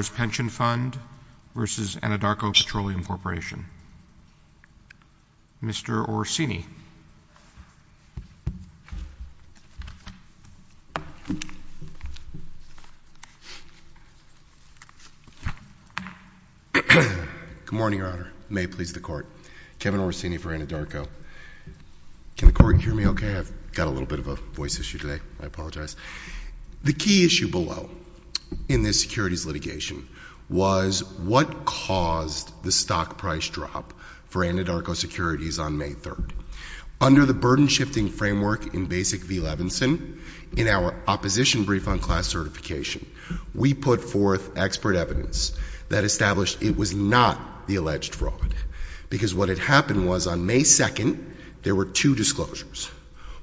v. Anadarko Petroleum Corporation. Mr. Orsini. Good morning, Your Honor. May it please the Court. Kevin Orsini for Anadarko. Can the Court hear me okay? I've got a little bit of a voice issue today. I apologize. The key issue below in this securities litigation was what caused the stock price drop for Anadarko Securities on May 3rd. Under the burden-shifting framework in Basic v. Levinson, in our opposition brief on class certification, we put forth expert evidence that established it was not the alleged fraud. Because what had happened was on May 2nd, there were two disclosures.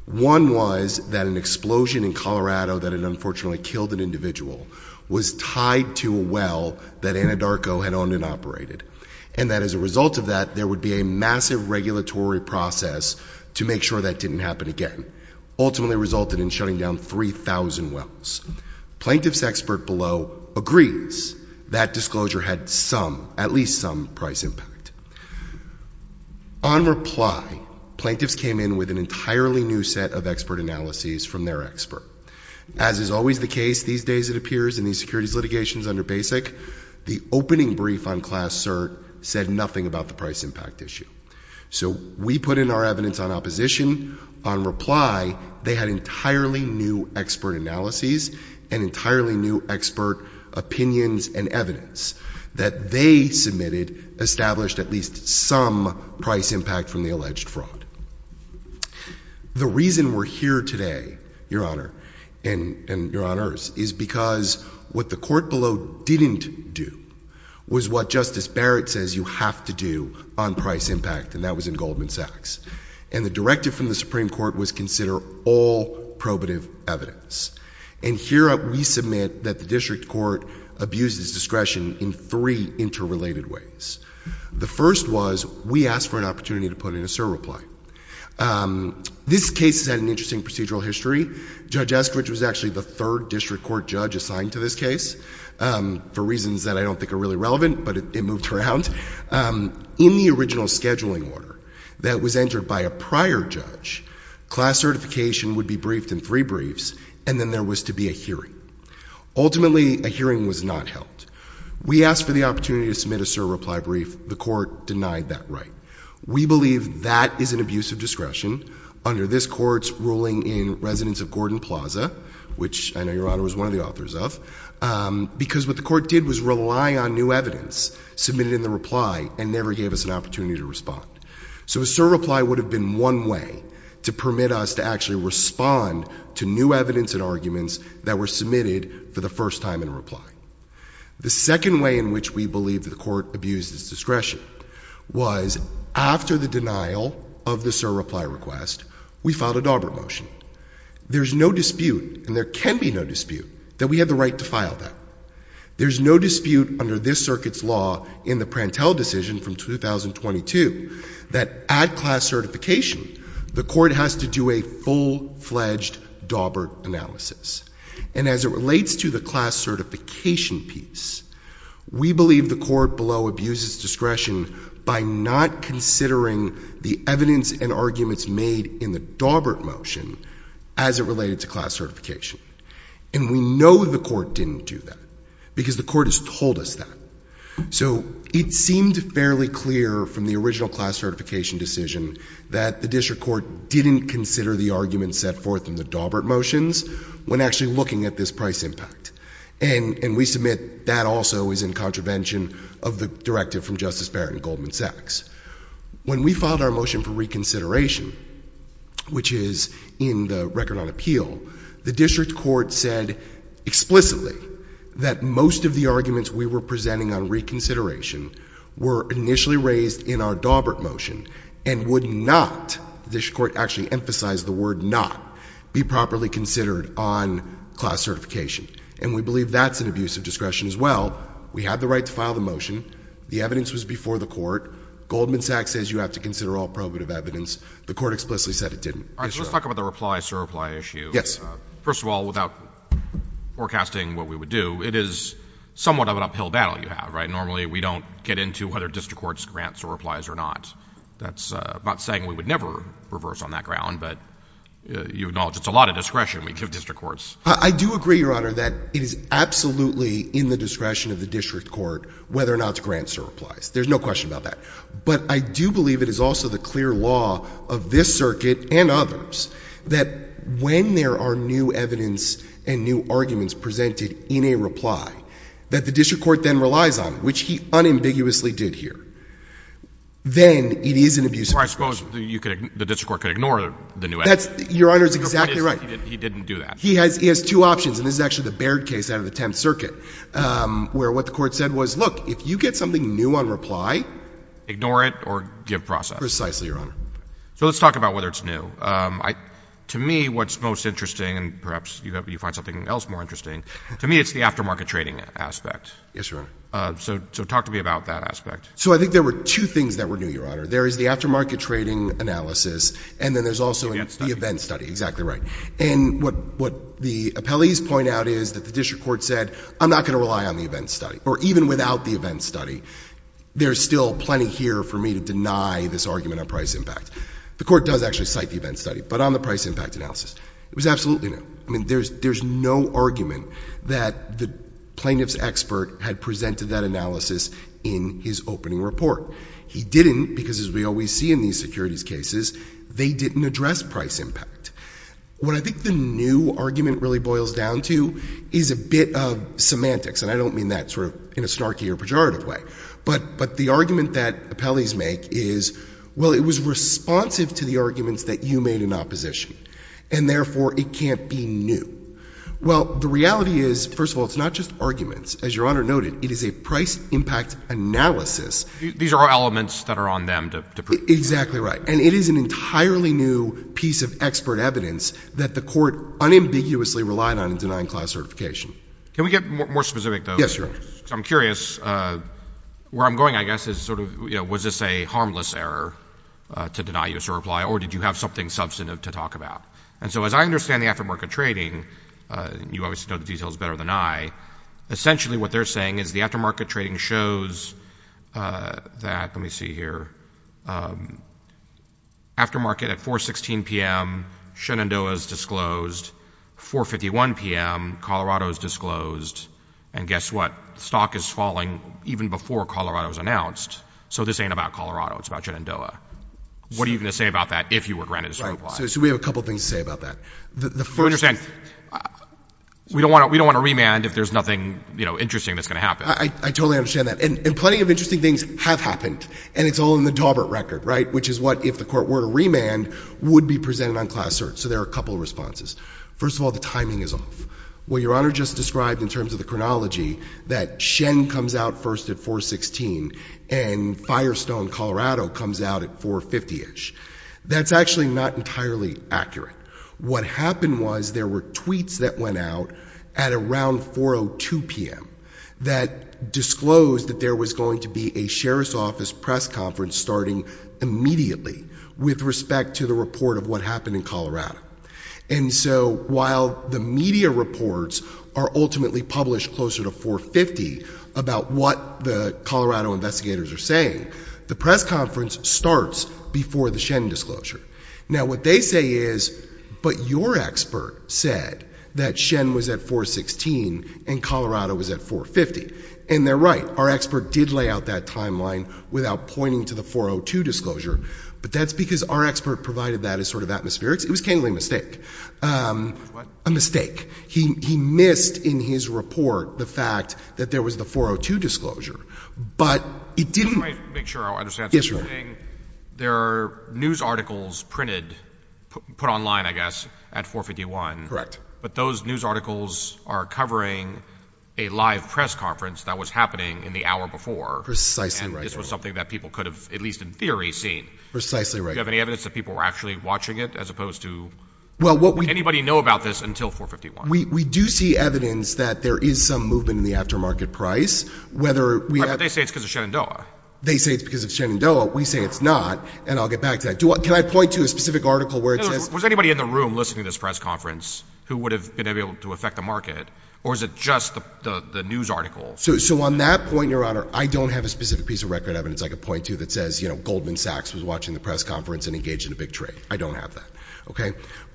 One was that an explosion in Colorado that had unfortunately killed an individual was tied to a well that Anadarko had owned and operated. And that as a result of that, there would be a massive regulatory process to make sure that didn't happen again. Ultimately resulted in shutting down 3,000 wells. Plaintiff's expert below agrees that disclosure had some, some price impact. On reply, plaintiffs came in with an entirely new set of expert analyses from their expert. As is always the case these days it appears in these securities litigations under Basic, the opening brief on class cert said nothing about the price impact issue. So we put in our evidence on opposition. On reply, they had entirely new expert analyses and entirely new expert opinions and evidence that they submitted established at least some price impact from the alleged fraud. The reason we're here today, your honor, and your honors is because what the court below didn't do was what Justice Barrett says you have to do on price impact and that was in Goldman Sachs. And the directive from the Supreme Court was consider all probative evidence. And here we submit that the district court abuses discretion in three interrelated ways. The first was we asked for an opportunity to put in a cert reply. This case had an interesting procedural history. Judge Estridge was actually the third district court judge assigned to this case for reasons that I don't think are really relevant but it moved around. In the original scheduling order that was entered by a prior judge, class certification would be briefed in three briefs and then there was to be a hearing. Ultimately a hearing was not held. We asked for the opportunity to submit a cert reply brief. The court denied that right. We believe that is an abuse of discretion under this court's ruling in residence of Gordon Plaza, which I know your honor was one of the authors of, because what the court did was rely on new evidence submitted in reply and never gave us an opportunity to respond. So a cert reply would have been one way to permit us to actually respond to new evidence and arguments that were submitted for the first time in reply. The second way in which we believe that the court abuses discretion was after the denial of the cert reply request, we filed a Daubert motion. There's no dispute, and there can be no dispute, that we have the right to file that. There's no dispute under this circuit's law in the Prantel decision from 2022 that at class certification the court has to do a full-fledged Daubert analysis. And as it relates to the class certification piece, we believe the court below abuses discretion by not considering the evidence and arguments made in the Daubert motion as it related to class certification. And we know the court didn't do that, because the court has told us that. So it seemed fairly clear from the original class certification decision that the district court didn't consider the arguments set forth in the Daubert motions when actually looking at this price impact. And we submit that also is in contravention of the directive from Justice Barrett and Goldman Sachs. When we filed our motion for reconsideration, which is in the record on appeal, the district court said explicitly that most of the arguments we were presenting on reconsideration were initially raised in our Daubert motion and would not, the district court actually emphasized the word not, be properly considered on class certification. And we believe that's an abuse of discretion as well. We had the right to file the motion. The evidence was before the court. Goldman Sachs says you have to consider all probative evidence. The court explicitly said it didn't. All right, so let's talk about the reply-sir-reply issue. Yes. First of all, without forecasting what we would do, it is somewhat of an uphill battle you have, right? Normally we don't get into whether district courts grant sir-replies or not. That's about saying we would never reverse on that ground, but you acknowledge it's a lot of discretion we give district courts. I do agree, Your Honor, that it is absolutely in the discretion of the district court whether or not to grant sir-replies. There's no question about that. But I do believe it is also the right of others that when there are new evidence and new arguments presented in a reply that the district court then relies on, which he unambiguously did here, then it is an abuse of discretion. Well, I suppose the district court could ignore the new evidence. Your Honor is exactly right. He didn't do that. He has two options, and this is actually the Baird case out of the Tenth Circuit, where what the court said was, look, if you get something new on reply— Ignore it or give process. Precisely, Your Honor. So let's talk about whether it's new. To me, what's most interesting, and perhaps you find something else more interesting, to me it's the aftermarket trading aspect. Yes, Your Honor. So talk to me about that aspect. So I think there were two things that were new, Your Honor. There is the aftermarket trading analysis, and then there's also— The event study. The event study. Exactly right. And what the appellees point out is that the district court said, I'm not going to rely on the event study, or even without the event study. There's still plenty here for me to deny this argument on price impact. The court does actually cite the event study, but on the price impact analysis. It was absolutely new. I mean, there's no argument that the plaintiff's expert had presented that analysis in his opening report. He didn't, because as we always see in these securities cases, they didn't address price impact. What I think the new argument really boils down to is a bit of semantics, and I don't mean that sort of in a snarky or pejorative way, but the argument that appellees make is, well, it was responsive to the arguments that you made in opposition, and therefore it can't be new. Well, the reality is, first of all, it's not just arguments. As Your Honor noted, it is a price impact analysis. These are all elements that are on them to prove— Exactly right. And it is an entirely new piece of expert evidence that the court unambiguously relied on in denying class certification. Can we get more specific, though? Yes, Your Honor. Because I'm curious. Where I'm going, I guess, is sort of, you know, was this a harmless error to deny use or apply, or did you have something substantive to talk about? And so as I understand the aftermarket trading—you obviously know the details better than I—essentially what they're saying is the aftermarket trading shows that—let me see here—aftermarket at 4.16 p.m., Shenandoah's disclosed. 4.51 p.m., Colorado's disclosed. And guess what? Stock is falling even before Colorado's announced, so this ain't about Colorado. It's about Shenandoah. What are you going to say about that if you were granted this overprice? Right. So we have a couple of things to say about that. The first— I understand. We don't want to—we don't want to remand if there's nothing, you know, interesting that's going to happen. I totally understand that. And plenty of interesting things have happened, and it's all in the background, would be presented on Class Search. So there are a couple of responses. First of all, the timing is off. What Your Honor just described in terms of the chronology that Shen comes out first at 4.16 and Firestone, Colorado, comes out at 4.50-ish, that's actually not entirely accurate. What happened was there were tweets that went out at around 4.02 p.m. that disclosed that there was going to be a Sheriff's Office press conference starting immediately with respect to the report of what happened in Colorado. And so while the media reports are ultimately published closer to 4.50 about what the Colorado investigators are saying, the press conference starts before the Shen disclosure. Now what they say is, but your expert said that Shen was at 4.16 and Colorado was at 4.50, and they're right. Our expert did lay out that timeline without pointing to the 4.02 disclosure, but that's because our expert provided that as sort of atmospherics. It was a mistake. He missed in his report the fact that there was the 4.02 disclosure, but it didn't... Let me make sure I understand. So you're saying there are news articles printed, put online I guess, at 4.51, but those news articles are covering a live press conference that was happening in the hour before, and this was something that people could have at least in theory seen. Do you have any evidence that people were actually watching it as opposed to... Anybody know about this until 4.51? We do see evidence that there is some movement in the aftermarket price, whether we have... But they say it's because of Shenandoah. They say it's because of Shenandoah. We say it's not, and I'll get back to that. Can I point to a specific article where it says... Was anybody in the room listening to this press conference who would have been able to affect the market, or is it just the news articles? So on that point, Your Honor, I don't have a specific piece of record evidence I could point to that says Goldman Sachs was watching the press conference and engaged in a big trade. I don't have that.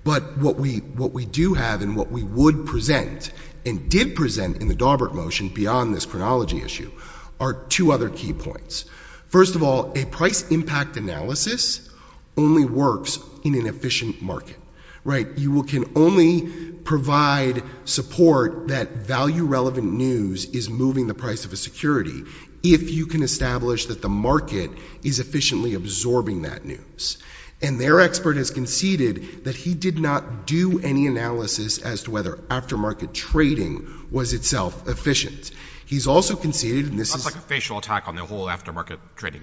But what we do have and what we would present and did present in the Daubert motion beyond this chronology issue are two other key points. First of all, a price impact analysis only works in an efficient market. You can only provide support that value-relevant news is moving the price of a security if you can establish that the market is efficiently absorbing that news. And their expert has conceded that he did not do any analysis as to whether aftermarket trading was itself efficient. He's also conceded... Sounds like a facial attack on the whole aftermarket trading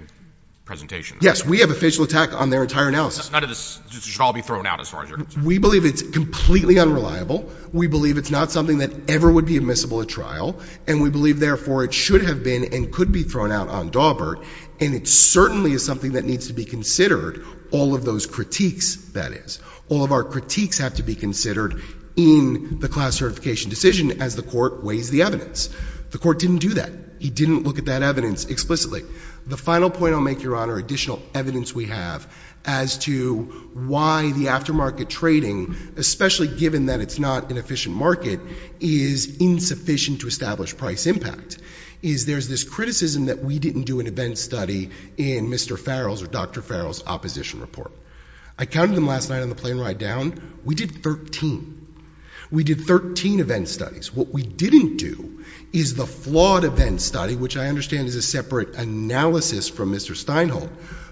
presentation. Yes, we have a facial attack on their entire analysis. None of this should all be thrown out as far as you're concerned. We believe it's completely unreliable. We believe it's not something that ever would be admissible at trial. And we believe, therefore, it should have been and could be thrown out on Daubert. And it certainly is something that needs to be considered, all of those critiques, that is. All of our critiques have to be considered in the class certification decision as the court weighs the evidence. The court didn't do that. He didn't look at that evidence explicitly. The final point I'll make, Your Honor, additional evidence we have as to why the aftermarket trading, especially given that it's not an efficient market, is insufficient to establish price impact is there's this criticism that we didn't do an event study in Mr. Farrell's or Dr. Farrell's opposition report. I counted them last night on the plane ride down. We did 13. We did 13 event studies. What we didn't do is the flawed event study, which I understand is a separate analysis from Mr. Steinholt,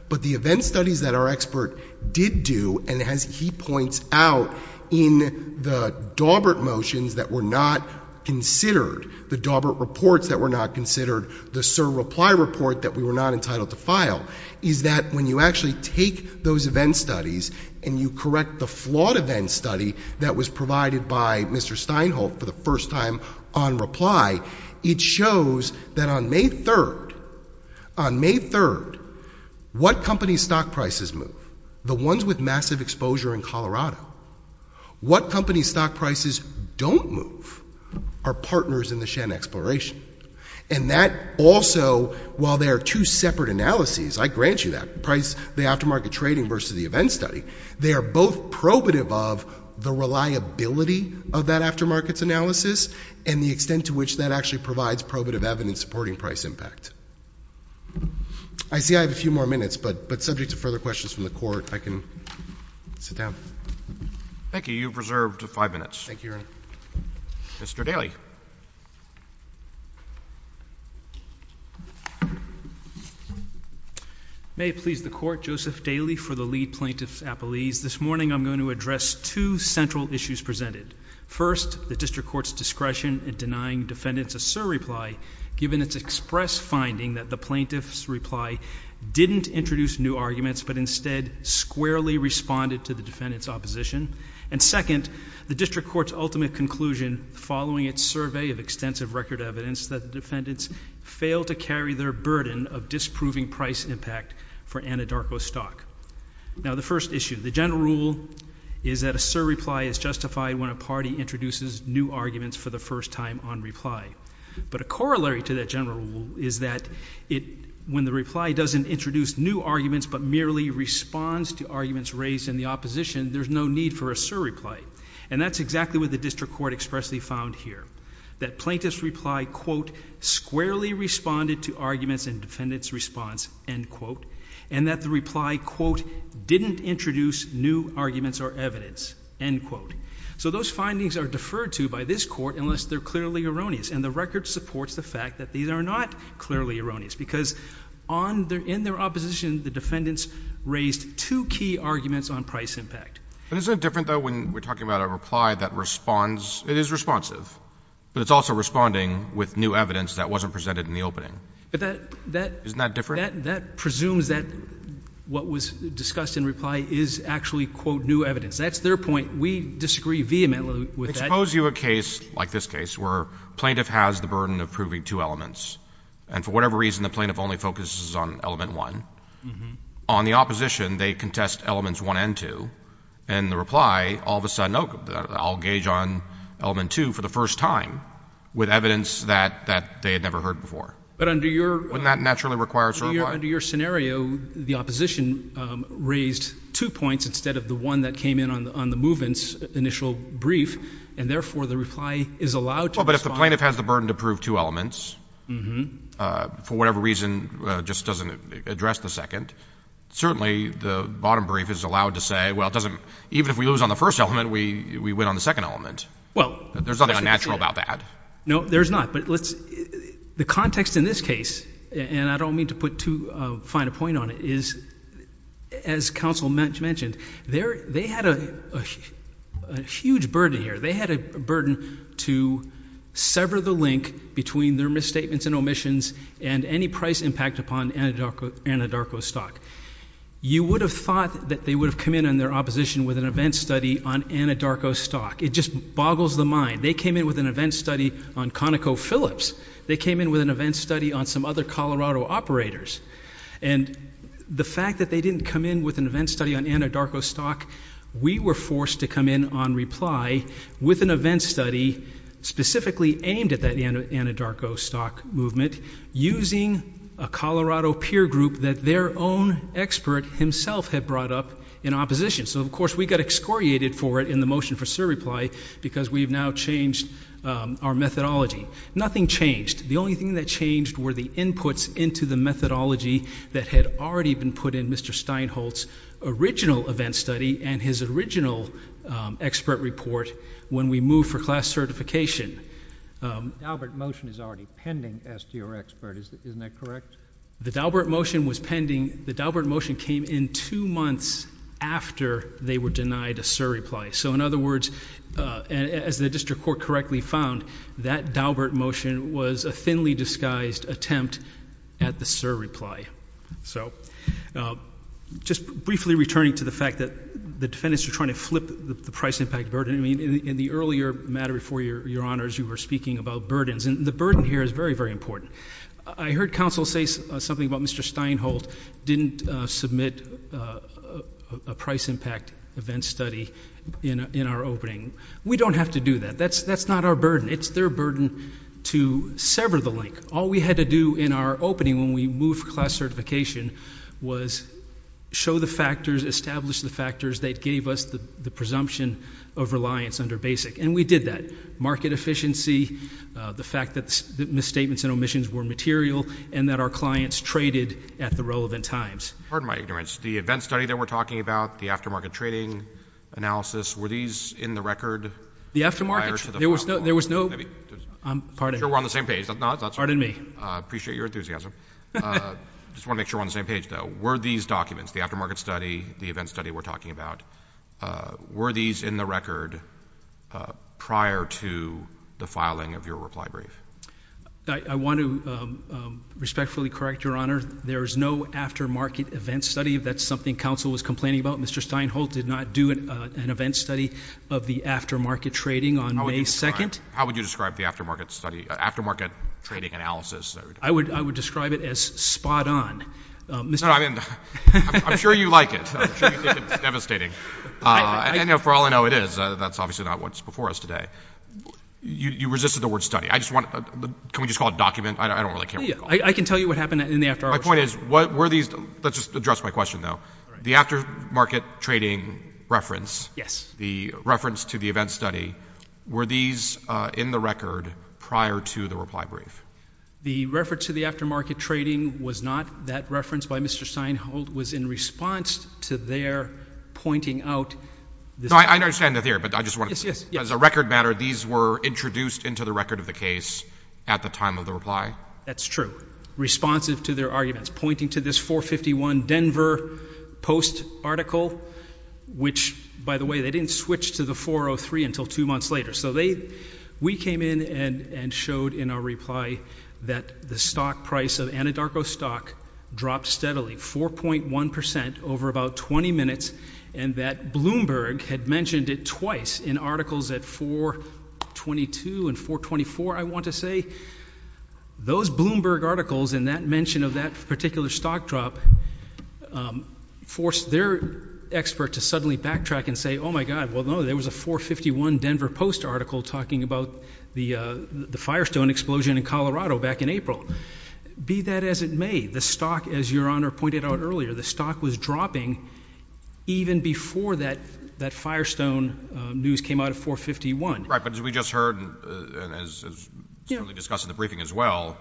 but the event studies that our expert did do, and as he points out, in the Daubert motions that were not considered, the Daubert reports that were not considered, the Sir Reply report that we were not entitled to file, is that when you actually take those event studies and you correct the flawed event study that was provided by Mr. Steinholt for the first time on reply, it shows that on May 3rd, on May 3rd, what company's stock prices move, the ones with massive exposure in Colorado, what company's stock prices don't move are partners in the Shen exploration. And that also, while they are two separate analyses, I grant you that, the aftermarket trading versus the event study, they are both probative of the reliability of that aftermarket's analysis and the extent to which that actually provides probative evidence supporting price impact. I see I have a few more minutes, but subject to further questions from the Court, I can sit down. Thank you. You have reserved five minutes. Mr. Daly. May it please the Court, Joseph Daly for the Lee Plaintiff's Appellees. This morning I'm going to address two central issues presented. First, the District Court's discretion in denying defendants a surreply, given its express finding that the plaintiff's reply didn't introduce new arguments, but instead squarely responded to the defendant's opposition. And second, the District Court's ultimate conclusion following its survey of extensive record evidence that the defendants failed to carry their burden of disproving price impact for Anadarko Stock. Now the first issue, the general rule is that a surreply is justified when a party introduces new arguments for the first time on reply. But a corollary to that general rule is that when the reply doesn't introduce new arguments, but merely responds to arguments raised in the opposition, there's no need for a surreply. And that's exactly what the District Court expressly found here, that plaintiff's reply, quote, squarely responded to arguments in the opposition, but the reply, quote, didn't introduce new arguments or evidence, end quote. So those findings are deferred to by this Court unless they're clearly erroneous. And the record supports the fact that these are not clearly erroneous, because on their — in their opposition, the defendants raised two key arguments on price impact. But isn't it different, though, when we're talking about a reply that responds — it is responsive, but it's also responding with new evidence that wasn't presented in the opening? But that — Isn't that different? That presumes that what was discussed in reply is actually, quote, new evidence. That's their point. We disagree vehemently with that. Expose you a case like this case, where plaintiff has the burden of proving two elements. And for whatever reason, the plaintiff only focuses on element one. On the opposition, they contest elements one and two. And the reply, all of a sudden, oh, I'll gauge on element two for the first time with evidence that — that they had never heard before. But under your — Wouldn't that naturally require a reply? Under your scenario, the opposition raised two points instead of the one that came in on the — on the movement's initial brief. And therefore, the reply is allowed to respond. Well, but if the plaintiff has the burden to prove two elements — Mm-hmm. — for whatever reason, just doesn't address the second, certainly the bottom brief is allowed to say, well, it doesn't — even if we lose on the first element, we win on the second element. Well — There's nothing unnatural about that. No, there's not. But let's — the context in this case, and I don't mean to put too fine a point on it, is, as counsel mentioned, they're — they had a huge burden here. They had a burden to sever the link between their misstatements and omissions and any price impact upon Anadarko — Anadarko stock. You would have thought that they would have come in on their opposition with an event study on Anadarko stock. It just boggles the ConocoPhillips. They came in with an event study on some other Colorado operators. And the fact that they didn't come in with an event study on Anadarko stock, we were forced to come in on reply with an event study specifically aimed at that Anadarko stock movement, using a Colorado peer group that their own expert himself had brought up in opposition. So, of course, we got excoriated for it in the motion for surreply, because we've now changed our methodology. Nothing changed. The only thing that changed were the inputs into the methodology that had already been put in Mr. Steinholtz's original event study and his original expert report when we moved for class certification. The Daubert motion is already pending as to your expert. Isn't that correct? The Daubert motion was pending — the Daubert motion came in two months after they were directly found. That Daubert motion was a thinly disguised attempt at the surreply. So just briefly returning to the fact that the defendants are trying to flip the price impact burden. I mean, in the earlier matter before, Your Honors, you were speaking about burdens. And the burden here is very, very important. I heard counsel say something about Mr. Steinholtz didn't submit a price impact event study in our opening. We don't have to do that. That's not our burden. It's their burden to sever the link. All we had to do in our opening when we moved for class certification was show the factors, establish the factors that gave us the presumption of reliance under BASIC. And we did that. Market efficiency, the fact that misstatements and omissions were material, and that our clients traded at the relevant times. Pardon my ignorance. The event study that we're talking about, the aftermarket trading analysis, were these in the record? The aftermarket? There was no, there was no, I'm pardon me. I'm sure we're on the same page. Pardon me. I appreciate your enthusiasm. I just want to make sure we're on the same page, though. Were these documents, the aftermarket study, the event study we're talking about, were these in the record prior to the filing of your reply brief? I want to respectfully correct, Your Honor, there is no aftermarket event study. That's something counsel was complaining about. Mr. Steinholtz did not do an event study of the aftermarket trading on May 2nd. How would you describe the aftermarket study, aftermarket trading analysis? I would describe it as spot on. No, I mean, I'm sure you like it. I'm sure you think it's devastating. And for all I know, it is. That's obviously not what's before us today. You resisted the word study. I just want, can we just call it document? I don't really care what you call it. I can tell you what happened in the aftermarket study. My point is, were these, let's just address my question, though. The aftermarket trading reference. Yes. The reference to the event study. Were these in the record prior to the reply brief? The reference to the aftermarket trading was not that reference by Mr. Steinholtz. It was in response to their pointing out this. No, I understand the theory, but I just want to, as a record matter, these were introduced into the record of the case at the time of the reply? That's true. Responsive to their arguments. Pointing to this 451 Denver Post article, which, by the way, they didn't switch to the 403 until two months later. So they, we came in and showed in our reply that the stock price of Anadarko stock dropped steadily 4.1% over about 20 minutes and that Bloomberg had mentioned it twice in articles at 422 and 424, I want to say. Those Bloomberg articles and that mention of that particular stock drop forced their expert to suddenly backtrack and say, oh my God, well, no, there was a 451 Denver Post article talking about the Firestone explosion in Colorado back in April. Be that as it may, the stock, as Your Honor pointed out earlier, the stock was dropping even before that Firestone news came out of 451. Right, but as we just heard and as was discussed in the briefing as well,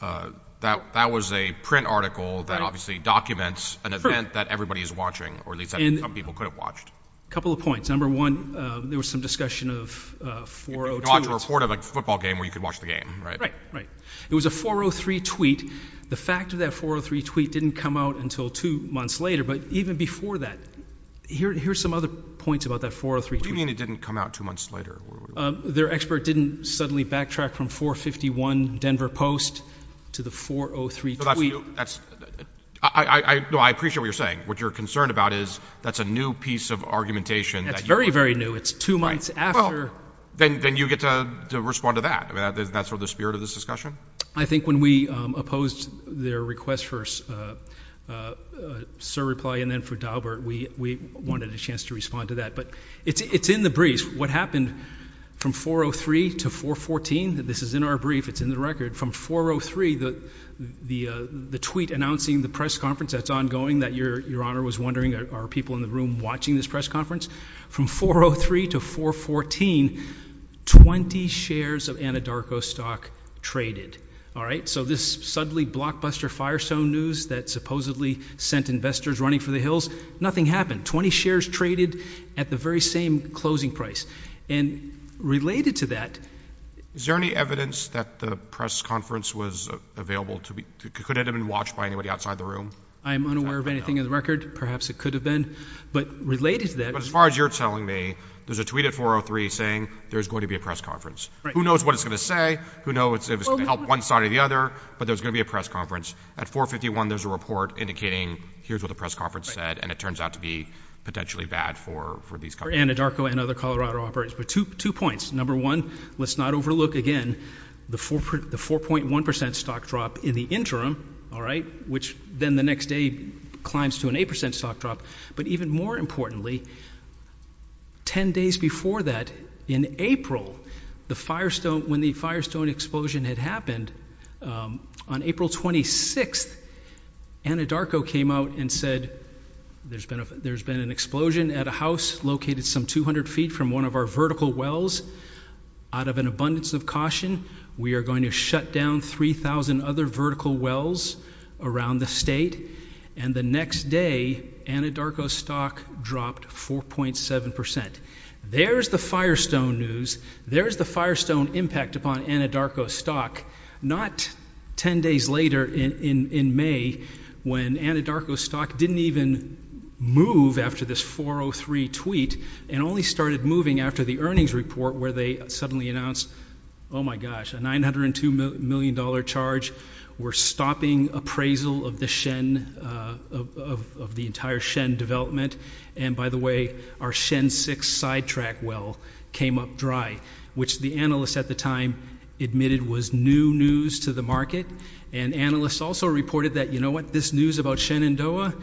that was a print article that obviously documents an event that everybody is watching, or at least some people could have watched. Couple of points. Number one, there was some discussion of 402. You could watch a report of a football game where you could watch the game, right? Right, right. It was a 403 tweet. The fact of that 403 tweet didn't come out until two months later, but even before that, here's some other points about that 403 tweet. What do you mean it didn't come out two months later? Their expert didn't suddenly backtrack from 451 Denver Post to the 403 tweet. I appreciate what you're saying. What you're concerned about is that's a new piece of argumentation. That's very, very new. It's two months after. Then you get to respond to that. That's sort of the spirit of this discussion? I think when we opposed their request for a surreply and then for Daubert, we wanted a chance to respond to that, but it's in the briefs. What happened from 403 to 414, this is in our brief, it's in the record, from 403, the tweet announcing the press conference that's ongoing that Your Honor was wondering, are people in the room watching this press conference? From 403 to 414, 20 shares of Anadarko stock traded. All right, so this suddenly blockbuster Firestone news that supposedly sent investors running for the hills, nothing happened. 20 shares traded at the very same closing price. Related to that— Is there any evidence that the press conference was available to be—could it have been watched by anybody outside the room? I'm unaware of anything in the record. Perhaps it could have been. But related to that— As far as you're telling me, there's a tweet at 403 saying there's going to be a press conference. Who knows what it's going to say? Who knows if it's going to help one side or the other, but there's going to be a press conference. At 451, there's a report indicating here's what the press conference said, and it turns out to be potentially bad for these companies. For Anadarko and other Colorado operators. But two points. Number one, let's not overlook again the 4.1% stock drop in the interim, all right, which then the next day climbs to an 8% stock drop. But even more importantly, 10 days before that, in April, the Firestone—when the Firestone explosion had happened, on April 26th, Anadarko came out and said there's been an explosion at a house located some 200 feet from one of our vertical wells. Out of an abundance of caution, we are going to shut down 3,000 other vertical wells around the state. And the next day, Anadarko's stock dropped 4.7%. There's the Firestone news. There's the Firestone impact upon Anadarko's stock, not 10 days later in May, when Anadarko's stock didn't even move after this 4.03 tweet, and only started moving after the earnings report where they suddenly announced, oh my gosh, a $902 million charge, we're stopping appraisal of the entire Shen development, and by the way, our Shen 6 sidetrack well came up dry, which the analysts at the time admitted was new news to the market, and analysts also reported that, you know what, this news about Shenandoah,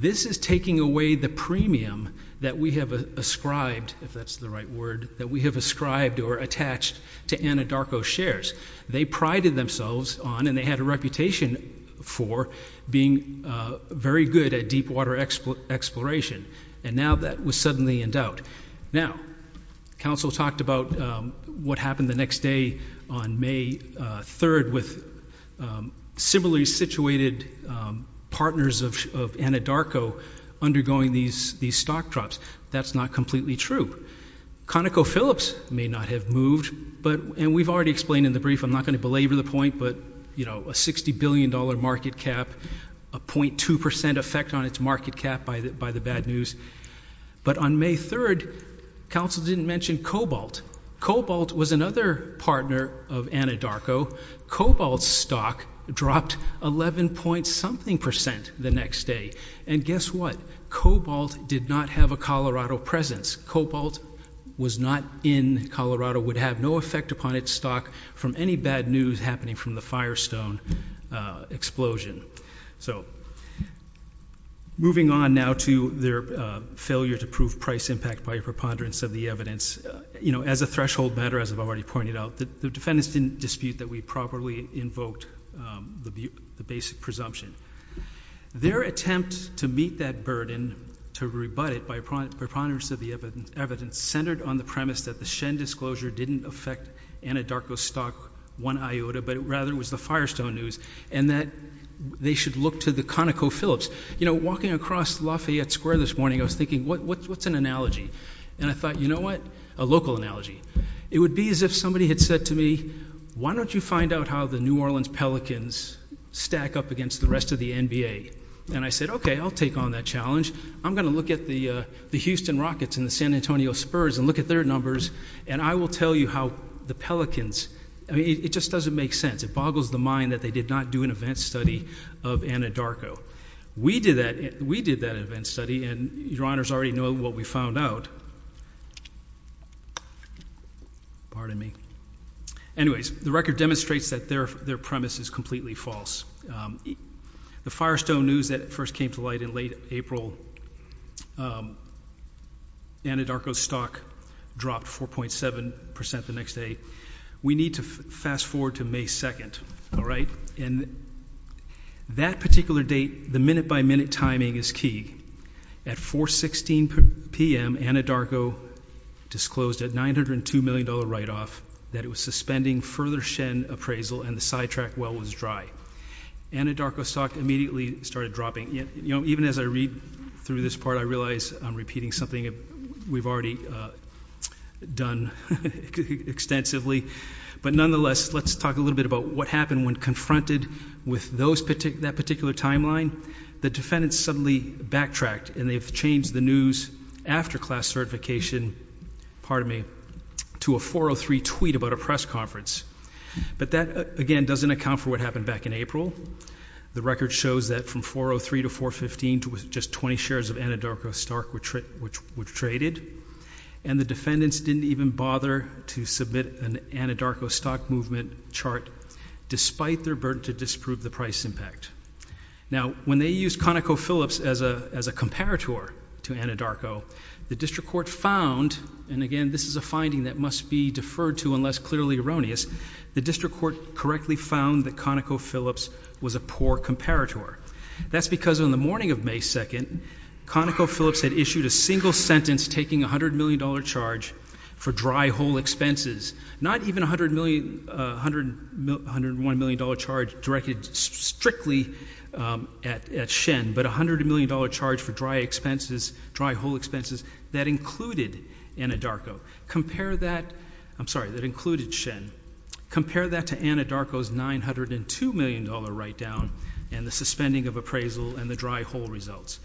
this is taking away the premium that we have ascribed, if that's the right word, that we have ascribed or attached to Anadarko's shares. They prided themselves on, and they had a reputation for, being very good at deep water exploration, and now that was suddenly in doubt. Now, council talked about what happened the next day on May 3rd with similarly situated partners of Anadarko undergoing these stock drops. That's not completely true. ConocoPhillips may not have moved, and we've already explained in the brief, I'm not going to belabor the point, but you know, a $60 billion market cap, a .2% effect on its market cap by the bad news, but on May 3rd, council didn't mention Cobalt. Cobalt was another partner of Anadarko. Cobalt's stock dropped 11 point something percent the next day, and guess what, Cobalt did not have a Colorado presence. Cobalt was not in Colorado, would have no effect upon its stock from any bad news happening from the Firestone explosion. So moving on now to their failure to prove price impact by a preponderance of the evidence, you know, as a threshold matter, as I've already pointed out, the defendants didn't dispute that we properly invoked the basic presumption. Their attempt to meet that burden, to rebut it by a preponderance of the evidence, centered on the premise that the Shen disclosure didn't affect Anadarko's stock one iota, but rather was the Firestone news, and that they should look to the ConocoPhillips. You know, walking across Lafayette Square this morning, I was thinking, what's an analogy? And I thought, you know what, a local analogy. It would be as if somebody had said to me, why don't you find out how the New Orleans Pelicans stack up against the rest of the NBA? And I said, okay, I'll take on that challenge. I'm going to look at the Houston Rockets and the San Antonio Spurs and look at their numbers, and I will tell you how the Pelicans, I mean, it just doesn't make sense. It boggles the mind that they did not do an event study of Anadarko. We did that event study, and your honors already know what we found out. Pardon me. Anyways, the record demonstrates that their premise is completely false. The Firestone news that first came to light in late April, Anadarko's stock dropped 4.7% the next day. We need to fast forward to May 2nd, all right, and that particular date, the minute-by-minute timing is key. At 4.16 p.m., Anadarko disclosed a $902 million write-off that it was suspending further Shen appraisal and the sidetrack well was dry. Anadarko's stock immediately started dropping. Even as I read through this part, I realize I'm repeating something we've already done extensively, but nonetheless, let's talk a little bit about what happened when confronted with that particular timeline. The defendants suddenly backtracked, and they've changed the news after class certification, pardon me, to a 403 tweet about a press conference, but that, again, doesn't account for what happened back in April. The record shows that from 403 to 415, just 20 shares of Anadarko's stock were traded, and the defendants didn't even bother to submit an Anadarko stock movement chart despite their burden to disprove the price impact. Now, when they used ConocoPhillips as a comparator to Anadarko, the district court found, and again, this is a finding that must be deferred to unless clearly erroneous, the district court correctly found that ConocoPhillips was a poor comparator. That's because on the morning of May 2nd, ConocoPhillips had issued a single sentence taking a $100 million charge for dry hole expenses, not even a $101 million charge directed strictly at Shen, but a $100 million charge for dry hole expenses that included Anadarko. Compare that, I'm sorry, that included Shen, compare that to Anadarko's $902 million write down and the suspending of appraisal and the dry hole results.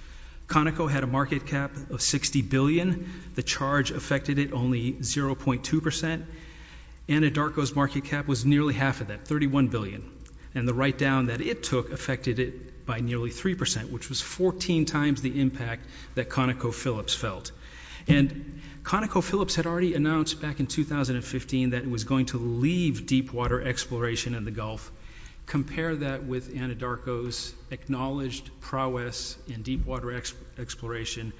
Conoco had a market cap of $60 billion, the charge affected it only 0.2%, Anadarko's market cap was nearly half of that, $31 billion, and the write down that it took affected it by nearly 3%, which was 14 times the impact that ConocoPhillips felt. And ConocoPhillips had already announced back in 2015 that it was going to leave deep water exploration in the Gulf. Compare that with Anadarko's acknowledged prowess in deep water exploration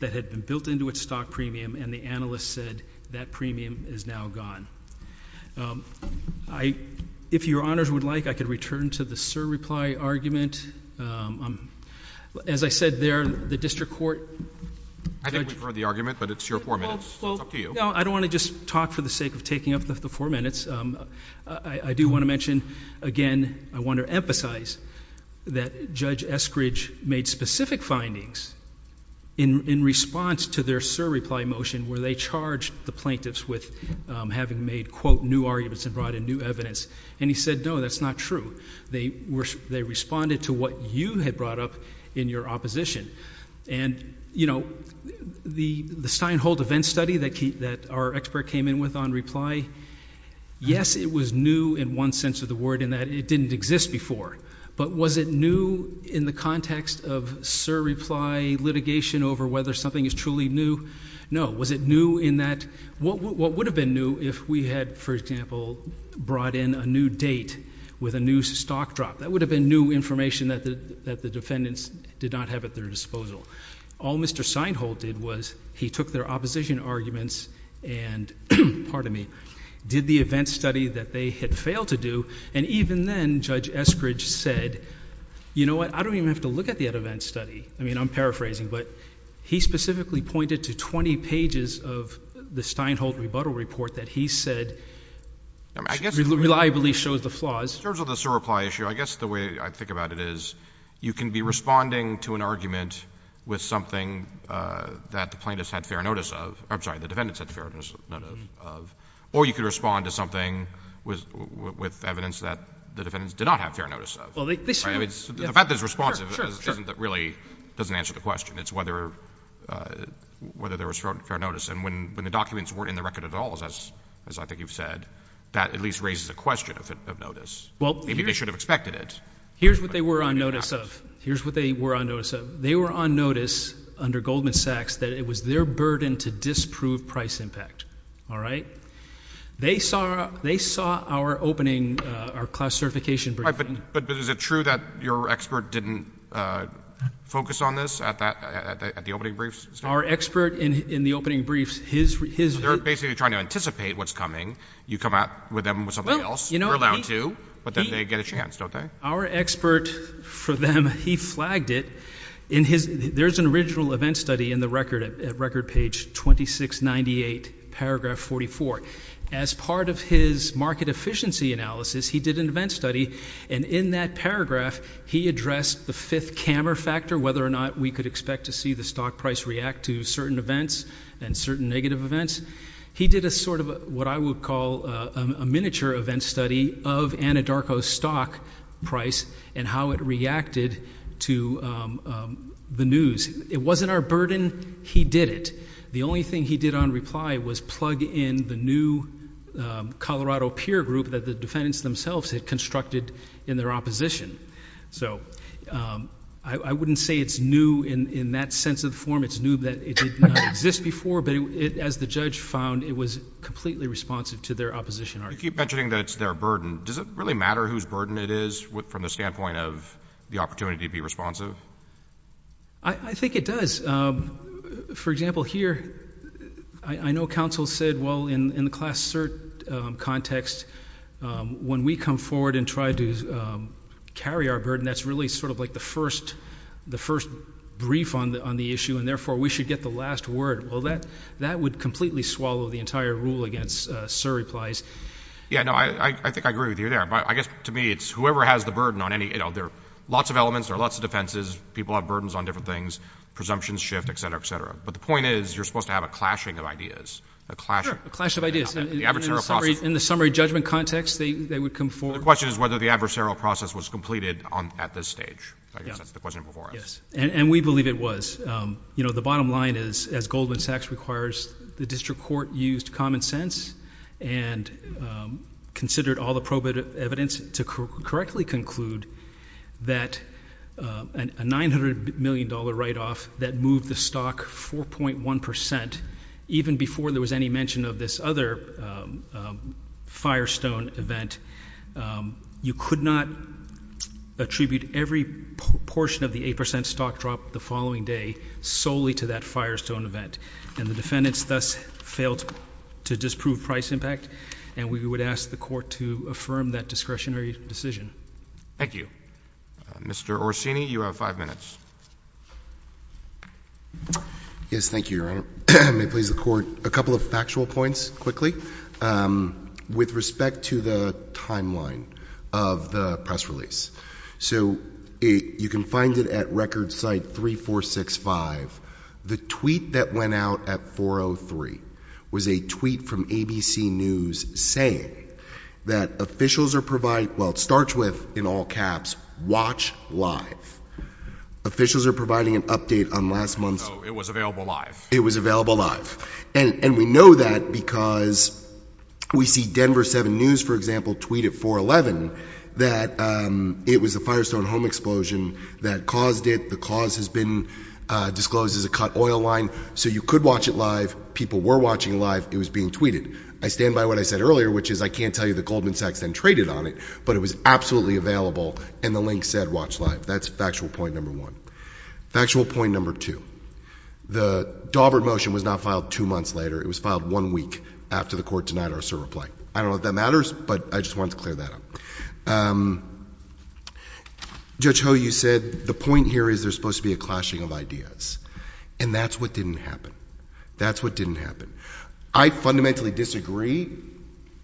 that had been built into its stock premium and the analyst said that premium is now gone. If Your Honors would like, I could return to the sir reply argument. As I said there, the district court judge... I think we've heard the argument, but it's your four minutes, it's up to you. No, I don't want to just talk for the sake of taking up the four minutes, I do want to mention again, I want to emphasize that Judge Eskridge made specific findings in response to their sir reply motion where they charged the plaintiffs with having made, quote, new arguments and brought in new evidence, and he said no, that's not true, they responded to what you had brought up in your opposition. And you know, the Steinholt event study that our expert came in with on reply, yes it was new in one sense of the word in that it didn't exist before, but was it new in the context of sir reply litigation over whether something is truly new? No. Was it new in that... what would have been new if we had, for example, brought in a new date with a new stock drop? That would have been new information that the defendants did not have at their disposal. All Mr. Steinholt did was he took their opposition arguments and, pardon me, did the event study that they had failed to do, and even then Judge Eskridge said, you know what, I don't even have to look at the event study, I mean I'm paraphrasing, but he specifically pointed to 20 pages of the Steinholt rebuttal report that he said reliably shows the flaws. In terms of the sir reply issue, I guess the way I think about it is you can be responding to an argument with something that the plaintiffs had fair notice of, I'm sorry, the defendants had fair notice of, or you could respond to something with evidence that the defendants did not have fair notice of. Well, they should. The fact that it's responsive really doesn't answer the question. It's whether there was fair notice. And when the documents weren't in the record at all, as I think you've said, that at least raises a question of notice. Maybe they should have expected it. Here's what they were on notice of. Here's what they were on notice of. They were on notice under Goldman Sachs that it was their burden to disprove price impact. All right? They saw our opening, our class certification briefing. But is it true that your expert didn't focus on this at the opening briefs? Our expert in the opening briefs, his— They're basically trying to anticipate what's coming. You come out with them with something else. Well, you know— They're allowed to, but then they get a chance, don't they? Our expert, for them, he flagged it. There's an original event study in the record at record page 2698, paragraph 44. As part of his market efficiency analysis, he did an event study. And in that paragraph, he addressed the fifth camera factor, whether or not we could expect to see the stock price react to certain events and certain negative events. He did a sort of what I would call a miniature event study of Anadarko's stock price and how it reacted to the news. It wasn't our burden. He did it. The only thing he did on reply was plug in the new Colorado peer group that the defendants themselves had constructed in their opposition. So I wouldn't say it's new in that sense of form. It's new that it did not exist before, but as the judge found, it was completely responsive to their opposition argument. You keep mentioning that it's their burden. Does it really matter whose burden it is from the standpoint of the opportunity to be responsive? I think it does. For example, here, I know counsel said, well, in the class cert context, when we come forward and try to carry our burden, that's really sort of like the first brief on the issue, and therefore, we should get the last word. Well, that would completely swallow the entire rule against cert replies. Yeah, no, I think I agree with you there. But I guess to me, it's whoever has the burden on any, you know, there are lots of elements, there are lots of defenses, people have burdens on different things, presumptions shift, et cetera, et cetera. But the point is, you're supposed to have a clashing of ideas, a clashing. A clash of ideas. The adversarial process. In the summary judgment context, they would come forward. The question is whether the adversarial process was completed at this stage. I guess that's the question before us. Yes. And we believe it was. You know, the bottom line is, as Goldman Sachs requires, the district court used common sense and considered all the probative evidence to correctly conclude that a $900 million write-off that moved the stock 4.1 percent, even before there was any mention of this other firestone event, you could not attribute every portion of the 8 percent stock drop the following day solely to that firestone event. And the defendants thus failed to disprove price impact. And we would ask the Court to affirm that discretionary decision. Thank you. Mr. Orsini, you have five minutes. Yes. Thank you, Your Honor. May it please the Court, a couple of factual points, quickly. With respect to the timeline of the press release. So you can find it at record site 3465. The tweet that went out at 4.03 was a tweet from ABC News saying that officials are providing, well, it starts with, in all caps, WATCH LIVE. Officials are providing an update on last month's... So it was available live. It was available live. And we know that because we see Denver 7 News, for example, tweet at 4.11 that it was a firestone home explosion that caused it. The cause has been disclosed as a cut oil line. So you could watch it live. People were watching live. It was being tweeted. I stand by what I said earlier, which is I can't tell you that Goldman Sachs then traded on it, but it was absolutely available. And the link said WATCH LIVE. That's factual point number one. Factual point number two. The Daubert motion was not filed two months later. It was filed one week after the Court denied our Sir reply. I don't know if that matters, but I just wanted to clear that up. Judge Ho, you said the point here is there's supposed to be a clashing of ideas. And that's what didn't happen. That's what didn't happen. I fundamentally disagree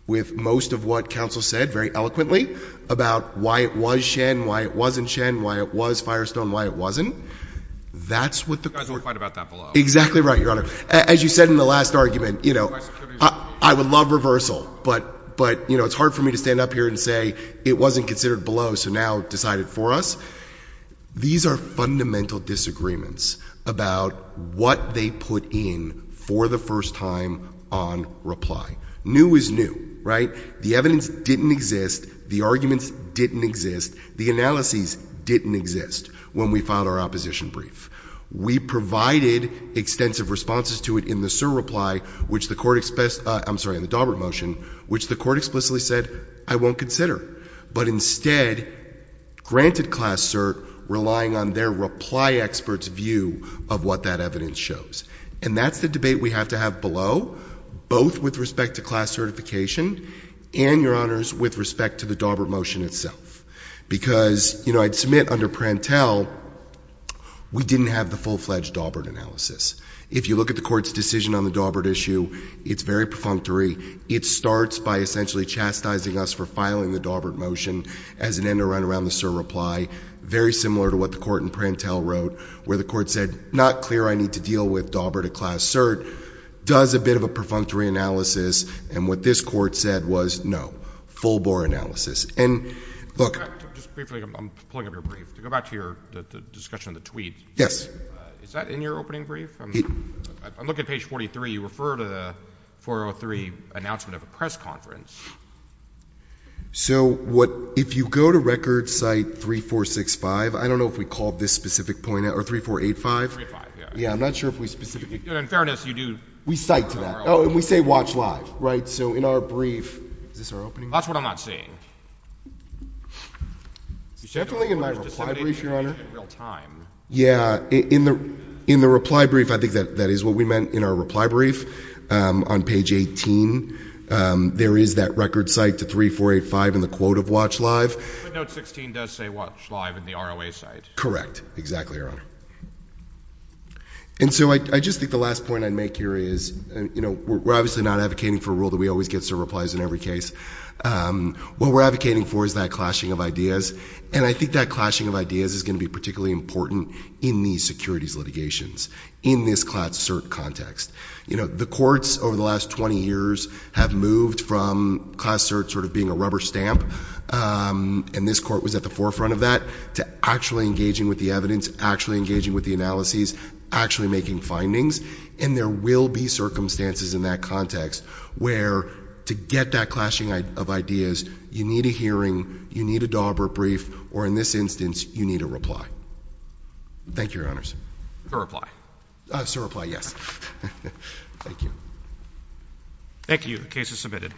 with most of what counsel said very eloquently about why it was Shen, why it wasn't Shen, why it was Firestone, why it wasn't. That's what the court... You guys will fight about that below. Exactly right, Your Honor. As you said in the last argument, I would love reversal, but it's hard for me to stand up here and say it wasn't considered below, so now decide it for us. These are fundamental disagreements about what they put in for the first time on reply. New is new, right? The evidence didn't exist. The arguments didn't exist. The analyses didn't exist when we filed our opposition brief. We provided extensive responses to it in the Sir reply, which the court... I'm sorry, in the Daubert motion, which the court granted class cert, relying on their reply expert's view of what that evidence shows. And that's the debate we have to have below, both with respect to class certification and, Your Honors, with respect to the Daubert motion itself. Because, you know, I'd submit under Prantel, we didn't have the full-fledged Daubert analysis. If you look at the court's decision on the Daubert issue, it's very perfunctory. It starts by essentially chastising us for the Sir reply, very similar to what the court in Prantel wrote, where the court said, not clear I need to deal with Daubert at class cert, does a bit of a perfunctory analysis, and what this court said was, no, full-bore analysis. And, look... Just briefly, I'm pulling up your brief. To go back to your discussion of the tweet... Yes. Is that in your opening brief? I'm looking at page 43. You refer to the 403 announcement of a press conference. So, what, if you go to record site 3465, I don't know if we called this specific point out, or 3485. 3485, yeah. Yeah, I'm not sure if we specifically... In fairness, you do... We cite to that. Oh, and we say watch live, right? So, in our brief, is this our opening brief? That's what I'm not seeing. It's definitely in my reply brief, Your Honor. In real time. Yeah, in the reply brief, I think that is what we meant in our reply brief. On page 18, there is that record site to 3485 in the quote of watch live. But note 16 does say watch live in the ROA site. Correct. Exactly, Your Honor. And so, I just think the last point I'd make here is, you know, we're obviously not advocating for a rule that we always get served replies in every case. What we're advocating for is that clashing of ideas, and I think that clashing of ideas is going to be particularly important in these securities litigations, in this CERT context. You know, the courts over the last 20 years have moved from Class CERT sort of being a rubber stamp, and this court was at the forefront of that, to actually engaging with the evidence, actually engaging with the analyses, actually making findings. And there will be circumstances in that context where, to get that clashing of ideas, you need a hearing, you need a Daubert brief, or in this instance, you need a reply. Thank you, Your Honors. Sir, reply. Sir, reply, yes. Thank you. Thank you. The case is submitted.